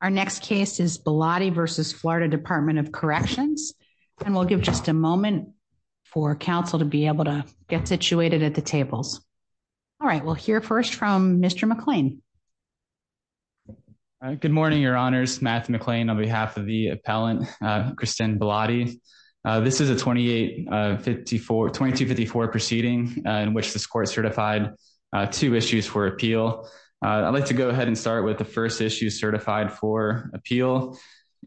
Our next case is Bilotti versus Florida Department of Corrections. And we'll give just a moment for council to be able to get situated at the tables. All right, we'll hear first from Mr. McLean. Good morning, Your Honors, Matthew McLean on behalf of the appellant, Christine Bilotti. This is a 2854 2254 proceeding in which this court certified two issues for appeal. I'd like to go ahead and start with the first issue certified for appeal.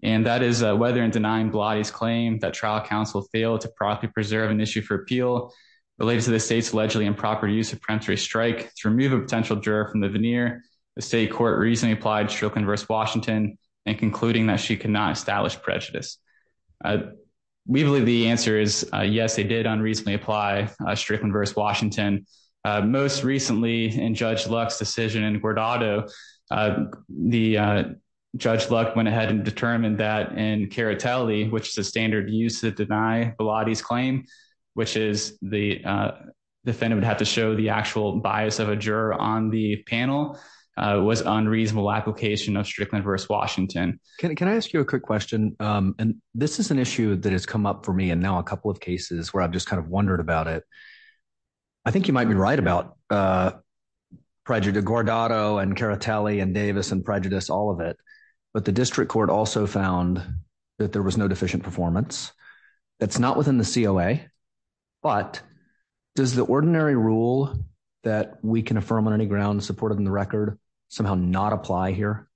And that is whether and denying Bilotti's claim that trial counsel failed to properly preserve an issue for appeal related to the state's allegedly improper use of preemptory strike to remove a potential juror from the veneer. The state court recently applied Strickland versus Washington and concluding that she could not establish prejudice. We believe the answer is yes, they did unreasonably apply Strickland versus Washington. Most recently in Judge Luck's decision in Guardado, the Judge Luck went ahead and determined that in Caritelli, which is a standard use of deny Bilotti's claim, which is the defendant would have to show the actual bias of a juror on the panel was unreasonable application of Strickland versus Washington. Can I ask you a quick question? And this is an issue that has come up for me and now a couple of cases where I've just kind of wondered about it. I think you might be right about, uh, prejudice Guardado and Caritelli and Davis and prejudice all of it. But the district court also found that there was no deficient performance. That's not within the C. O. A. But does the ordinary rule that we can affirm on any ground supported in the record somehow not apply here?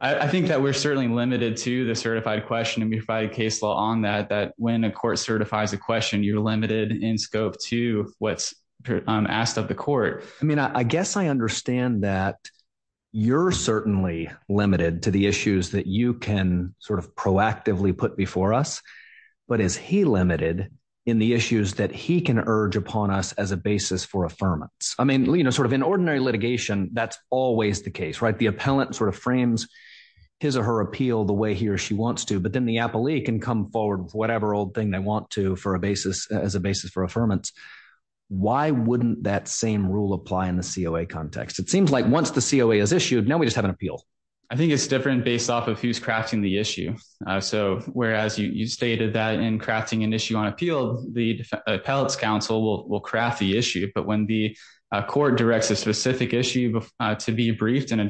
I think that we're certainly limited to the certified question and be provided case law on that that when a court certifies a question, you're limited in scope to what's asked of the court. I mean, I guess I understand that you're certainly limited to the issues that you can sort of proactively put before us. But is he limited in the issues that he can urge upon us as a basis for affirmance? I mean, you know, sort of in ordinary litigation, that's always the case, right? The appellant sort of frames his or her appeal the way he or she wants to. But then the appellee can come forward with whatever old thing they want to for a basis as a basis for affirmance. Why wouldn't that same rule apply in the C. O. A. Context? It seems like once the C. O. A. Is issued now we just have an appeal. I think it's different based off of who's crafting the issue. Eso. Whereas you stated that in crafting an issue on appeal, the appellate's counsel will craft the issue. But when the court directs a specific issue to be briefed and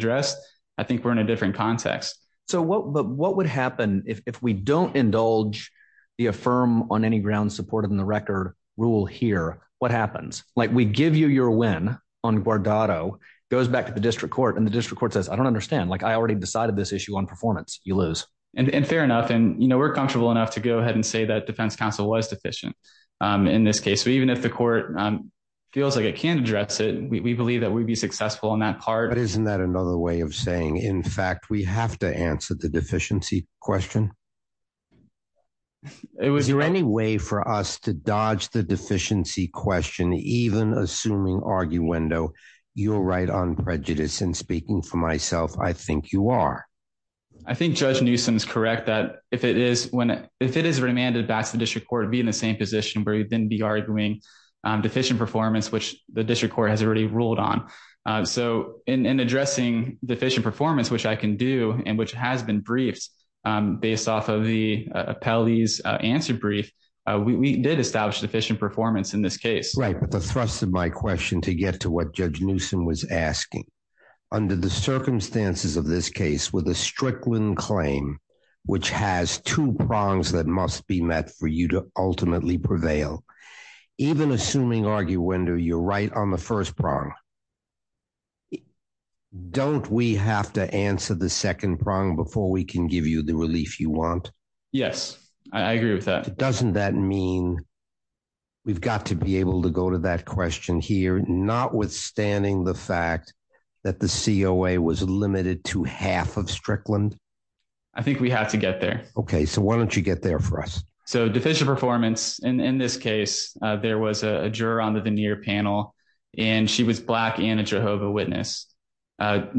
So what? But what would happen if we don't indulge the affirm on any ground supported in the record rule here? What happens like we give you your win on Guardado goes back to the district court and the district court says, I don't understand. Like I already decided this issue on performance. You lose. And fair enough. And you know, we're comfortable enough to go ahead and say that defense counsel was deficient. Um, in this case, even if the court feels like it can address it, we believe that we'd be successful in that part. Isn't that another way of saying? In fact, we have to answer the deficiency question. It was your any way for us to dodge the deficiency question, even assuming argue window, you're right on prejudice and speaking for myself. I think you are. I think Judge Newsome is correct that if it is when if it is remanded back to the district court, be in the same position where you didn't be arguing deficient performance, which the district court has already ruled on eso in addressing deficient performance, which I can do and which has been briefed based off of the appellee's answer brief. We did establish deficient performance in this case, right? But the thrust of my question to get to what Judge Newsome was asking under the circumstances of this case with a strickland claim, which has two prongs that must be met for you to ultimately prevail. Even assuming argue window, you're right on the first prong. Don't we have to answer the second prong before we can give you the relief you want? Yes, I agree with that. Doesn't that mean we've got to be able to go to that question here, notwithstanding the fact that the C. O. A. Was limited to half of strickland. I think we have to get there. Okay, so why don't you get there for us? So deficient performance in this case, there was a juror on the veneer panel, and she was black and a Jehovah Witness.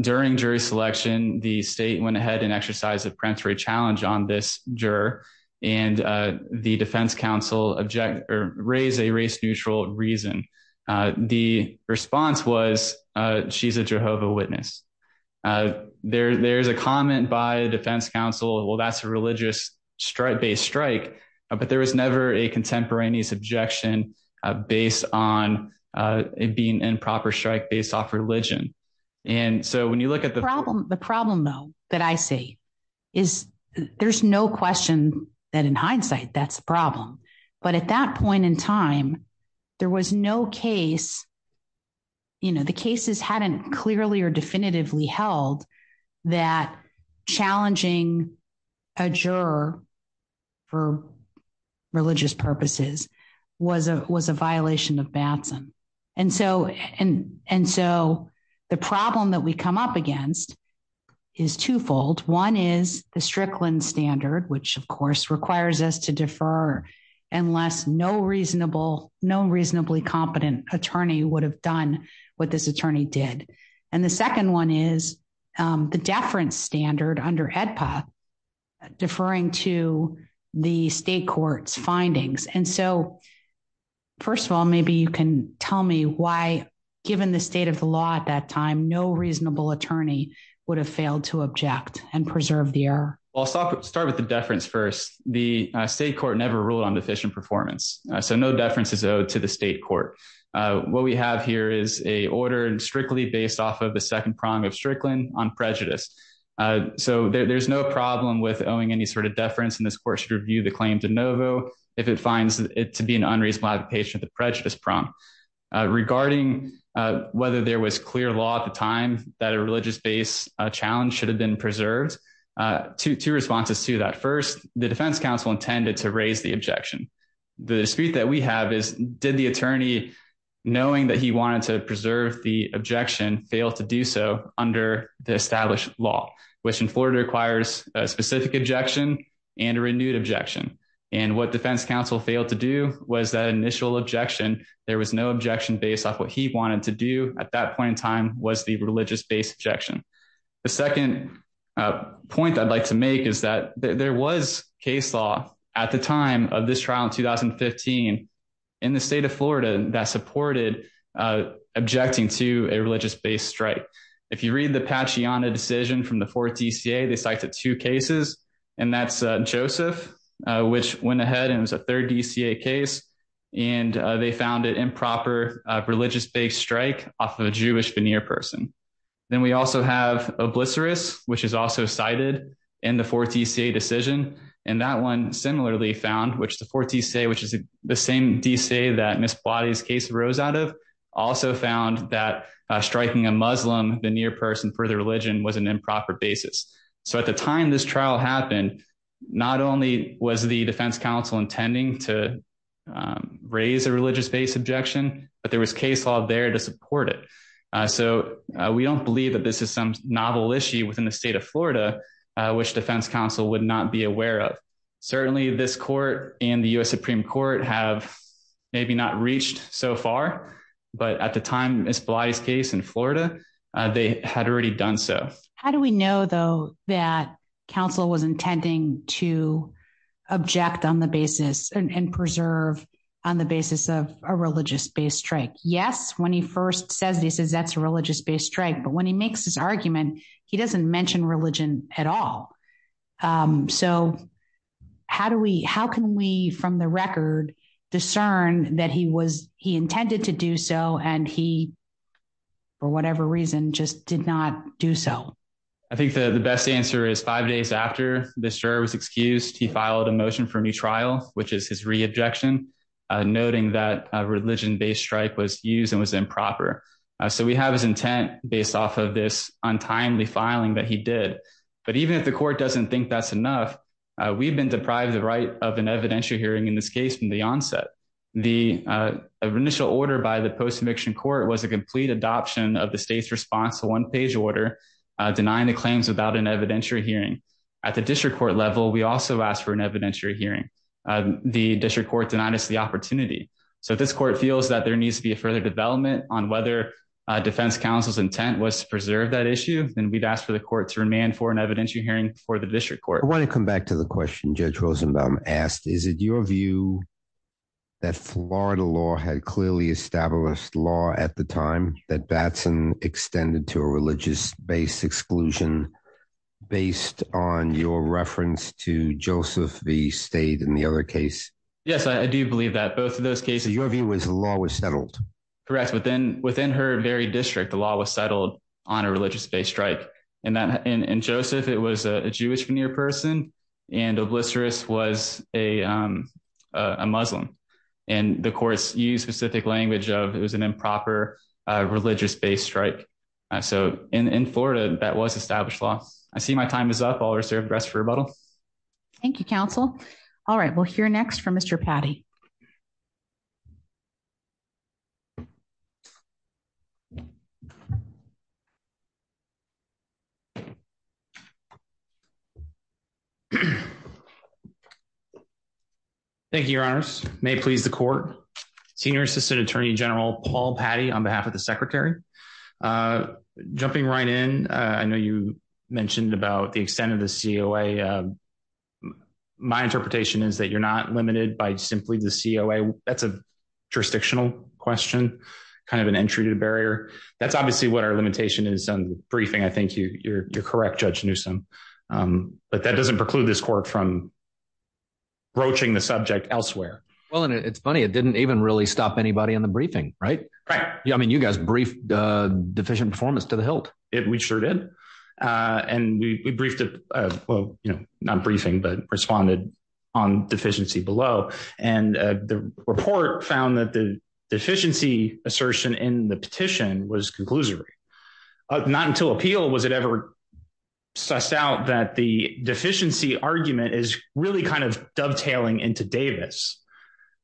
During jury selection, the state went ahead and exercise of Prince Ray challenge on this juror and the defense counsel object or raise a race neutral reason. The response was she's a Jehovah Witness. Uh, there's a comment by defense counsel. Well, that's a religious strike based strike, but there was never a contemporaneous objection based on being improper strike based off religion. And so when you look at the problem, the problem, though, that I see is there's no question that in hindsight, that's problem. But at that point in time, there was no case. You know, the cases hadn't clearly or definitively held that challenging a juror for religious purposes was a was a violation of Batson. And so and and so the problem that we come up against is twofold. One is the strickland standard, which, of course, requires us to defer unless no reasonable, no reasonably competent attorney would have done what this attorney did. And the second one is the deference standard under HEDPA deferring to the state courts findings. And so, first of all, maybe you can tell me why, given the state of the law at that time, no reasonable attorney would have failed to object and preserve the air. I'll start with the deference. First, the state court never ruled on deficient performance, so no deference is owed to the state court. What we have here is a order and strictly based off of the second prong of strickland on prejudice. So there's no problem with owing any sort of deference in this court should review the claim to Novo if it finds it to be an unreasonable patient, the prejudice prong regarding whether there was clear law at the time that a religious based challenge should have been preserved. Two responses to that. First, the defense counsel intended to raise the objection. The dispute that we have is, did the attorney, knowing that he wanted to preserve the objection, fail to do so under the established law, which in Florida requires a specific objection and a renewed objection. And what defense counsel failed to do was that initial objection, there was no objection based off what he wanted to do at that point in time was the religious based objection. The second point I'd like to make is that there was case law at the time of this trial in 2015 in the state of Florida that supported objecting to a religious based strike. If you read the patchy on a decision from the fourth D. C. A. They cited two cases and that's Joseph, which went ahead and was a third D. C. A. Case and they found it improper religious based strike off of a Jewish veneer person. Then we also have a blister is which is also cited in the fourth D. C. A. Decision and that one similarly found which the fourth D. C. A. Which is the same D. C. That Miss bodies case rose out of also found that striking a muslim the near person for the religion was an improper basis. So at the time this trial happened, not only was the defense counsel intending to raise a religious based objection, but there was case all there to support it. So we don't believe that this is some novel issue within the state of florida which defense counsel would not be aware of. Certainly this court and the U. S. Supreme Court have maybe not reached so far. But at the time, it's polite case in florida. They had already done so. How do we know though that counsel was intending to object on the basis and preserve on the basis of a religious based strike? Yes. When he first says this is that's a religious based strike. But when he makes his argument, he doesn't mention religion at all. Um, so how do we, how can we from the record discern that he was, he intended to do so and he for whatever reason just did not do so. I think the best answer is five days after this juror was excused, he filed a motion for a new trial, which is his re objection noting that religion based strike was used and was improper. So we have his intent based off of this untimely filing that he did. But even if the court doesn't think that's enough, we've been deprived the right of an evidentiary hearing in this case from the onset. The initial order by the post eviction court was a complete adoption of the state's response to one page order denying the claims without an evidentiary hearing at the district court level. We also asked for an evidentiary hearing. The district court denied us the opportunity. So this court feels that there needs to be a further development on whether defense council's intent was to preserve that issue. Then we'd ask for the court to remain for an evidentiary hearing for the district court. I want to come back to the question Judge Rosenbaum asked. Is it your view that florida law had clearly established law at the time that batson extended to a religious based exclusion based on your reference to joseph v stayed in the other case? Yes, I do believe that both of those cases, your view was the law was settled. Correct. Within within her very district, the law was settled on a religious based strike and that in joseph, it was a jewish veneer person and obliterus was a muslim and the courts use specific language of it was an improper religious based strike. So in florida that was established law. I see my time is up. All reserved rest for rebuttal. Thank you council. All right. We'll hear next from Mr patty. Thank you. Your honors may please the court. Senior assistant attorney general paul patty on behalf of the secretary. Uh jumping right in. I know you mentioned about the extent of the C. O. A. Uh my interpretation is that you're not limited by simply the C. O. A. That's a jurisdictional question, kind of an entry to the barrier. That's obviously what our limitation is on the briefing. I think you're correct judge Newsome. Um but that doesn't preclude this court from broaching the subject elsewhere. Well, it's funny, it didn't even really stop anybody in the briefing, right? Right. I mean, you guys briefed deficient performance to the hilt. We sure did. Uh, and we briefed, uh, well, you know, not briefing, but responded on deficiency below. And the report found that the deficiency assertion in the petition was conclusory. Not until appeal was it ever sussed out that the deficiency argument is really kind of dovetailing into Davis.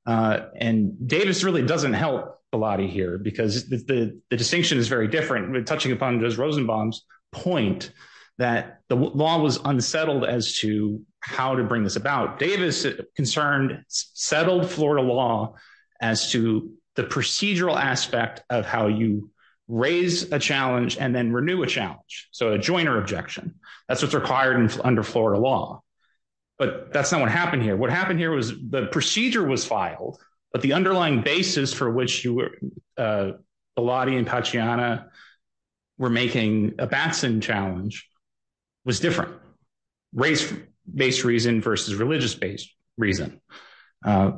Uh, and Davis really doesn't help a lot of here because the distinction is very different with touching upon those Rosenbaum's point that the law was unsettled as to how to bring this about Davis concerned, settled florida law as to the procedural aspect of how you raise a challenge and then renew a challenge. So a joiner objection, that's what's required under florida law. But that's not what happened here. What happened here was the procedure was filed, but the underlying basis for which you were, uh, a lot in Paciana were making a batson challenge was different race based reason versus religious based reason. Uh,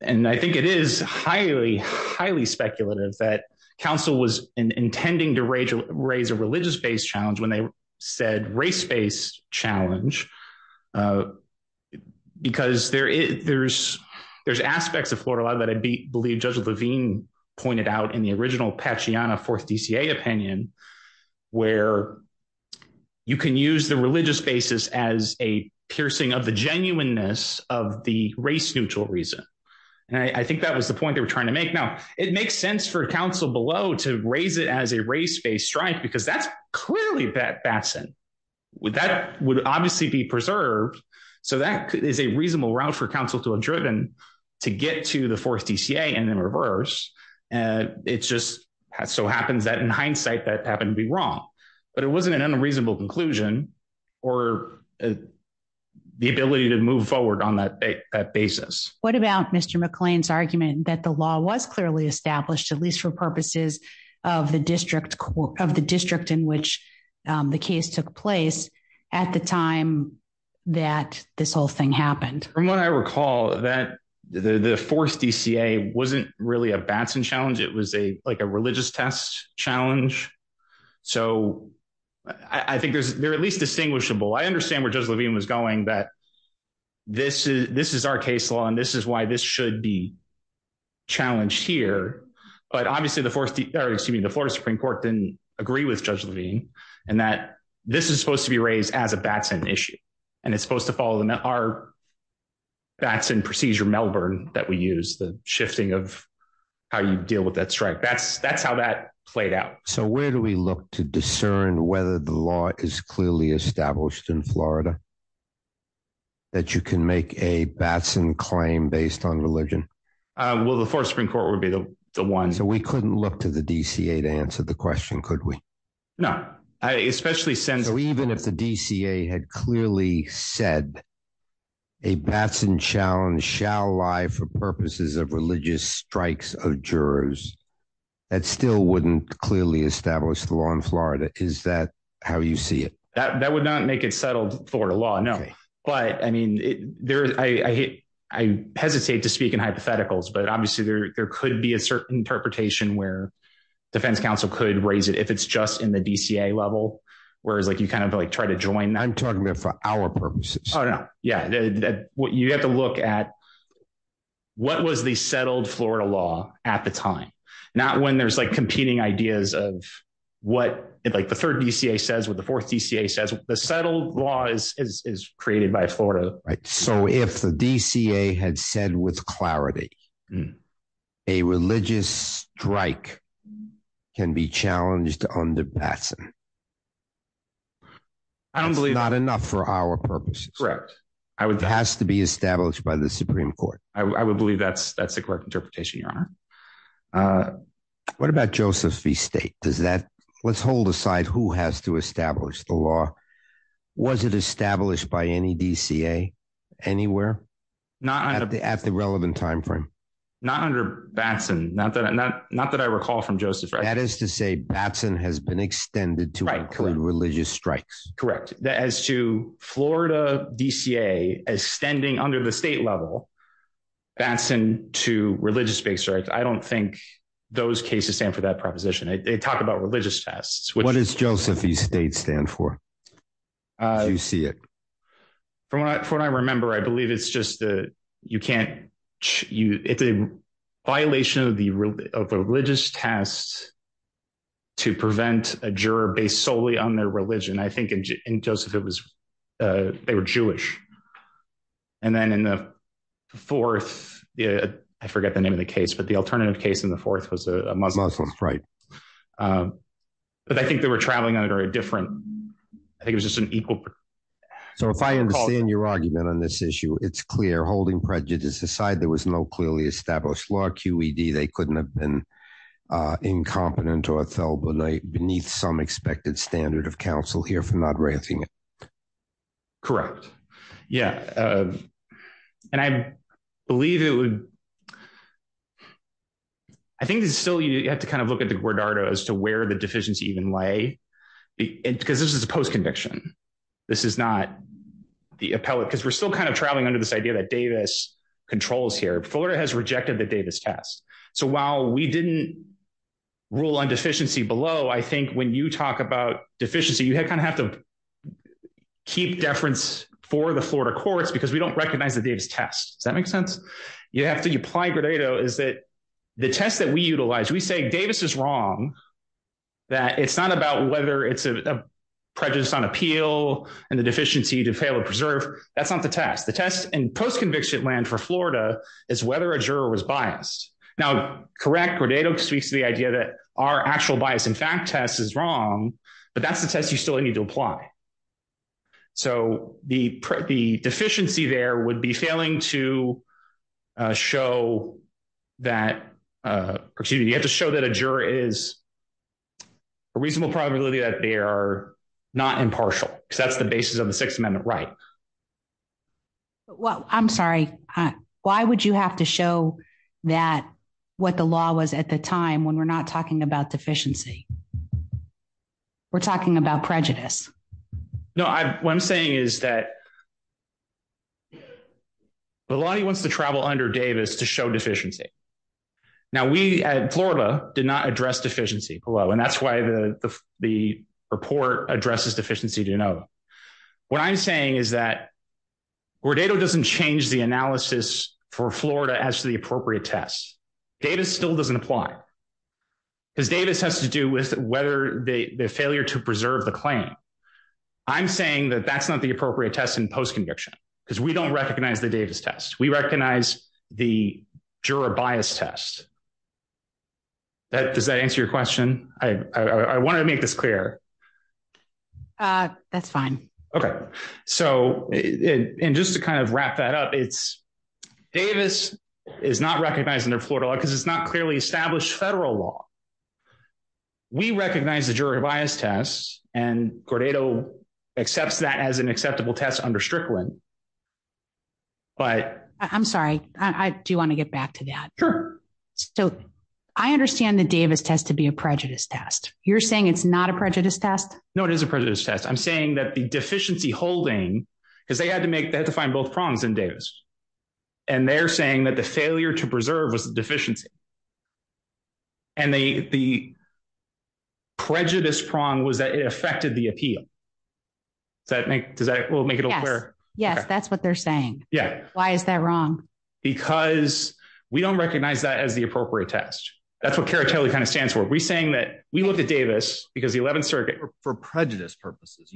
and I think it is highly, highly speculative that council was intending to raise a religious based challenge when they said race based challenge. Uh, because there is, there's, there's aspects of florida law that I believe Judge Levine pointed out in the original Paciana fourth D. C. A. Opinion where you can use the religious basis as a piercing of the genuineness of the race neutral reason. And I think that was the point they were trying to make. Now it makes sense for council below to raise it as a race based strike because that's clearly that batson with that would obviously be preserved. So that is a reasonable route for council to a driven to get to the fourth D. C. A. And then reverse. Uh, it's just so happens that in hindsight that happened to be wrong, but it wasn't an unreasonable conclusion or the ability to move forward on that basis. What about Mr McLean's argument that the law was clearly established, at least for purposes of the district of the district in which um, the case took place at the time that this whole thing happened from what I recall that the fourth D. C. A. Wasn't really a batson challenge. It was a like a religious test challenge. So I think there's, there are at least distinguishable. I understand where Judge Levine was going that this is, this is our case law and this is why this should be challenged here. But obviously the fourth, excuse me, the Florida Supreme Court didn't agree with Judge Levine and that this is supposed to be raised as a batson issue and it's supposed to follow the met our batson procedure Melbourne that we use the shifting of how you deal with that strike. That's, that's how that played out. So where do we look to discern whether the law is clearly established in florida that you can make a batson claim based on religion? Well, the fourth Supreme Court would be the one. So we couldn't look to the D. C. A. To answer the question. Could we? No, especially since even if the D. C. A. Had clearly said a batson challenge shall lie for purposes of religious strikes of jurors that still wouldn't clearly establish the law in florida. Is that how you see that? That would not make it settled florida law. No, but I mean, I hesitate to speak in hypotheticals, but obviously there could be a certain interpretation where defense counsel could raise it if it's just in the D. C. A. Level. Whereas like you kind of like try to join, I'm talking about for our purposes. Yeah, you have to look at what was the settled florida law at the time, not when there's like competing ideas of what like the third D. C. A. Says with the fourth D. C. A. Says the settled law is created by florida. So if the D. C. A. Had said with clarity, a religious strike can be challenged on the batson. I don't believe not enough for our purposes. Correct. I would have to be established by the Supreme Court. I would believe that's that's the correct interpretation. Your honor. Uh, what about joseph v state? Does that let's hold aside who has to establish the law? Was it established by any D. C. A. Anywhere? Not at the at the relevant time frame. Not under batson. Not that I'm not, not that I recall from joseph. That is to say, batson has been extended to include religious strikes. Correct. As to florida D. C. A. As standing under the state level, batson to religious space, right? I don't think those cases stand for that proposition. They talk about religious tests. What is joseph v state stand for? Uh, you see it from what I remember, I believe it's just that you can't, it's a violation of the religious tests to prevent a juror based solely on their religion. I think in joseph, it was, uh, they were jewish. And then in the fourth, I forget the name of the case, but the alternative case in the fourth was a muslim, right? Uh, but I think they were traveling under a different, I think it was just an equal. So if I understand your argument on this issue, it's clear holding prejudice aside, there was no clearly established law Q. E. D. They couldn't have been, uh, incompetent or fell beneath some expected standard of counsel here for not ranting. Correct. Yeah. Uh, and I believe it would, I think it's still, you have to kind of look at the guardardo as to where the deficiency even lay because this is a post conviction. This is not the appellate because we're still kind of traveling under this idea that davis controls here. Florida has rejected the davis test. So while we didn't rule on deficiency below, I think when you talk about deficiency, you have kind of have to keep deference for the florida courts because we don't recognize the davis test. Does that make sense? You have to apply. Grado is that the test that we utilize, we say davis is wrong, that it's not about whether it's a prejudice on appeal and the deficiency to fail to preserve. That's not the test. The test and post conviction land for florida is whether a juror was biased. Now, correct. Grado speaks to the idea that our actual bias in fact test is wrong, but that's the test you still need to apply. So the, the deficiency there would be failing to show that, uh, excuse me, you have to show that a juror is a reasonable probability that they are not impartial because that's the basis of the sixth amendment, right? Well, I'm sorry. Why would you have to show that what the law was at the time when we're not talking about deficiency, we're talking about prejudice. No, what I'm saying is that a lot of you wants to travel under davis to show deficiency. Now we at florida did not address deficiency below and that's why the report addresses deficiency to know what I'm saying is that where data doesn't change the analysis for florida as to the appropriate tests, davis still doesn't apply because davis has to do with whether the failure to preserve the claim. I'm saying that that's not the appropriate test in post conviction because we don't recognize the davis test. We recognize the juror bias test that does that answer your question. I want to make this clear. Uh, that's fine. Okay. So and just to kind of wrap that up, it's davis is not recognizing their florida because it's not clearly established federal law. Yeah, we recognize the jury bias tests and gordado accepts that as an acceptable test under strickland. But I'm sorry, I do want to get back to that. Sure. So I understand the davis test to be a prejudice test. You're saying it's not a prejudice test. No, it is a prejudice test. I'm saying that the deficiency holding because they had to make that to find both prongs in davis and they're saying that the failure to preserve was deficiency and the prejudice prong was that it affected the appeal. Does that make, does that make it? Yes, that's what they're saying. Why is that wrong? Because we don't recognize that as the appropriate test. That's what character kind of stands for. We're saying that we looked at davis because the 11th circuit for prejudice purposes.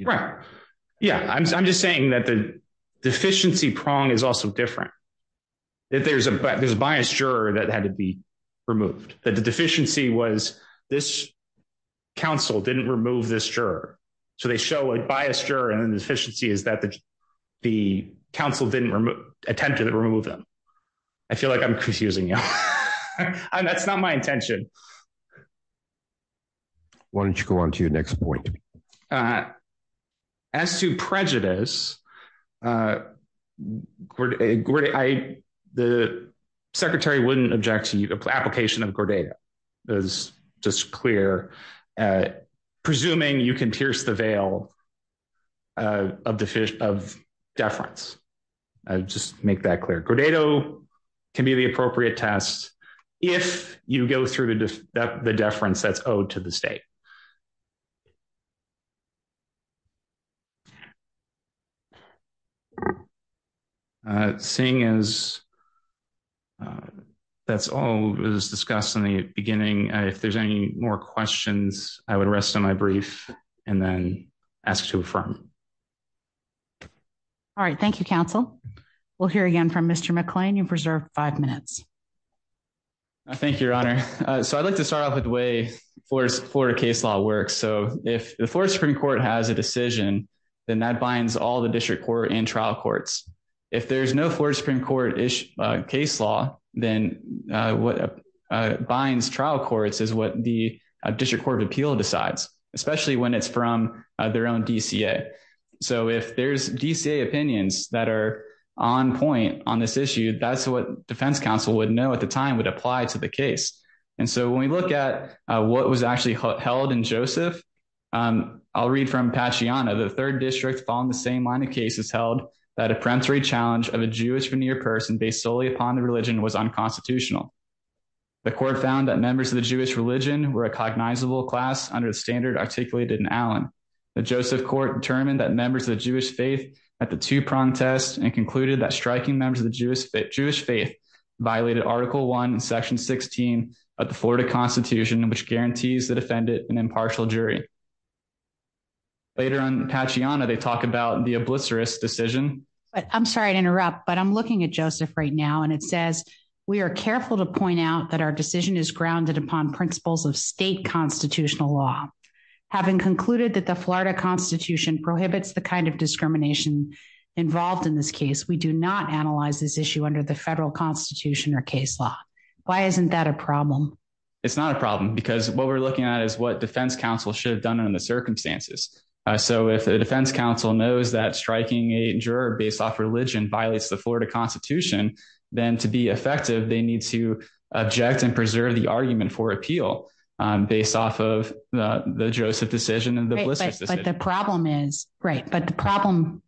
Yeah, I'm just saying that the deficiency prong is also different. That there's a there's a bias juror that had to be removed. The deficiency was this council didn't remove this juror. So they show a biased juror and the deficiency is that the council didn't attempt to remove them. I feel like I'm confusing you and that's not my intention. Why don't you go on to your next point? Uh, as to prejudice, uh, the secretary wouldn't object to the application of gordata is just clear, uh, presuming you can pierce the veil of the fish of deference. I just make that clear. Gordado can be the appropriate test if you go through the deference that's owed to the state. Uh, seeing as uh, that's all was discussed in the beginning. If there's any more questions, I would rest on my brief and then ask to affirm. All right. Thank you. Council. We'll hear again from Mr McClain. You've reserved five minutes. Thank you, Your Honor. So I'd like to start off with way for Florida case law works. So if the fourth Supreme Court has a decision, then that binds all the court and trial courts. If there's no fourth Supreme Court ish case law, then what binds trial courts is what the District Court of Appeal decides, especially when it's from their own D. C. A. So if there's D. C. A. Opinions that are on point on this issue, that's what Defense Council would know at the time would apply to the case. And so when we look at what was actually held in Joseph, um, I'll read from Pachy Anna, the third district on the same line of cases held that a peremptory challenge of a Jewish veneer person based solely upon the religion was unconstitutional. The court found that members of the Jewish religion were a cognizable class under the standard articulated in Allen. The Joseph Court determined that members of the Jewish faith at the two prong test and concluded that striking members of the Jewish Jewish faith violated Article one section 16 of the Florida Constitution, which guarantees the defendant an impartial jury. Later on Pachy Anna, they talk about the oblicerus decision, but I'm sorry to interrupt, but I'm looking at Joseph right now, and it says we're careful to point out that our decision is grounded upon principles of state constitutional law. Having concluded that the Florida Constitution prohibits the kind of discrimination involved in this case, we do not analyze this issue under the federal Constitution or case law. Why isn't that a problem? It's not a done in the circumstances. So if the defense counsel knows that striking a juror based off religion violates the Florida Constitution, then to be effective, they need to object and preserve the argument for appeal based off of the Joseph decision and the list. But the problem is right, but the problem.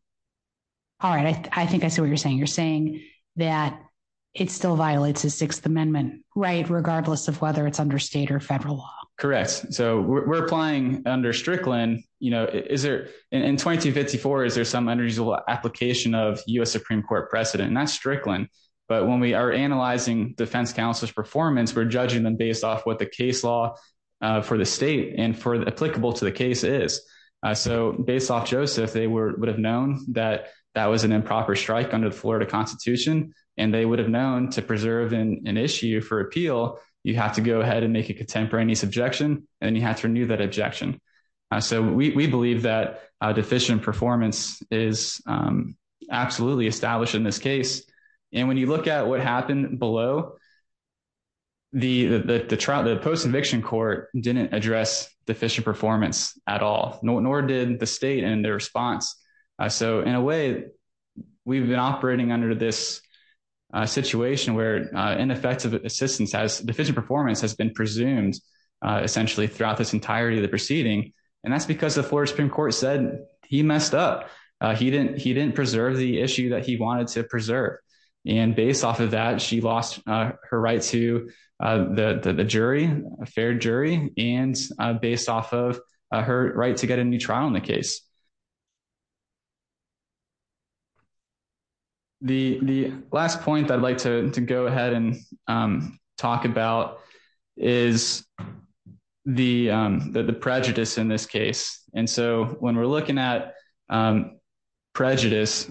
All right, I think I see what you're saying. You're saying that it still violates the Sixth Amendment, right, regardless of whether it's under state or federal law, correct? So we're applying under Strickland. You know, is there in 2054? Is there some unusual application of U. S. Supreme Court precedent? That's Strickland. But when we are analyzing defense counsel's performance, we're judging them based off what the case law for the state and for applicable to the case is so based off Joseph, they were would have known that that was an improper strike under the Florida Constitution, and they would have known to preserve an issue for appeal. You have to go ahead and make a contemporaneous objection, and you have to renew that objection. So we believe that deficient performance is absolutely established in this case. And when you look at what happened below, the post eviction court didn't address deficient performance at all, nor did the state and their response. So in a way, we've been operating under this situation where ineffective assistance has deficient performance has been presumed essentially throughout this entirety of the proceeding. And that's because the Florida Supreme Court said he messed up. He didn't. He didn't preserve the issue that he wanted to preserve. And based off of that, she lost her right to the jury, a fair jury and based off of her right to get a new trial in the case. The last point I'd like to go ahead and talk about is the prejudice in this case. And so when we're looking at prejudice,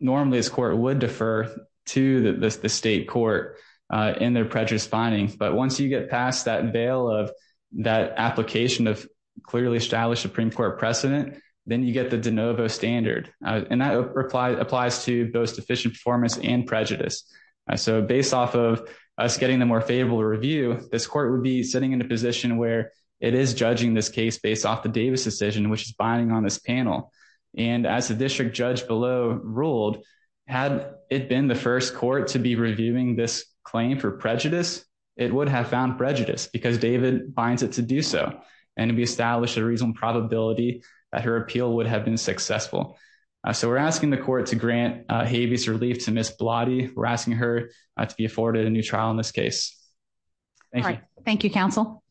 normally, as court would defer to the state court in their prejudice findings, but once you get past that veil of that application of clearly established Supreme Court precedent, then you get the de novo standard. And that applies to both deficient performance and prejudice. So based off of us getting the more favorable review, this court would be sitting in a position where it is judging this case based off the Davis decision, which is binding on this panel. And as the district judge below ruled, had it been the first court to be reviewing this claim for prejudice, it would have found prejudice because David finds it to do so and to be established a reason. Probability that her appeal would have been successful. So we're asking the court to grant habeas relief to Miss Blatty. We're asking her to be afforded a new trial in this case. Thank you. Thank you, Council.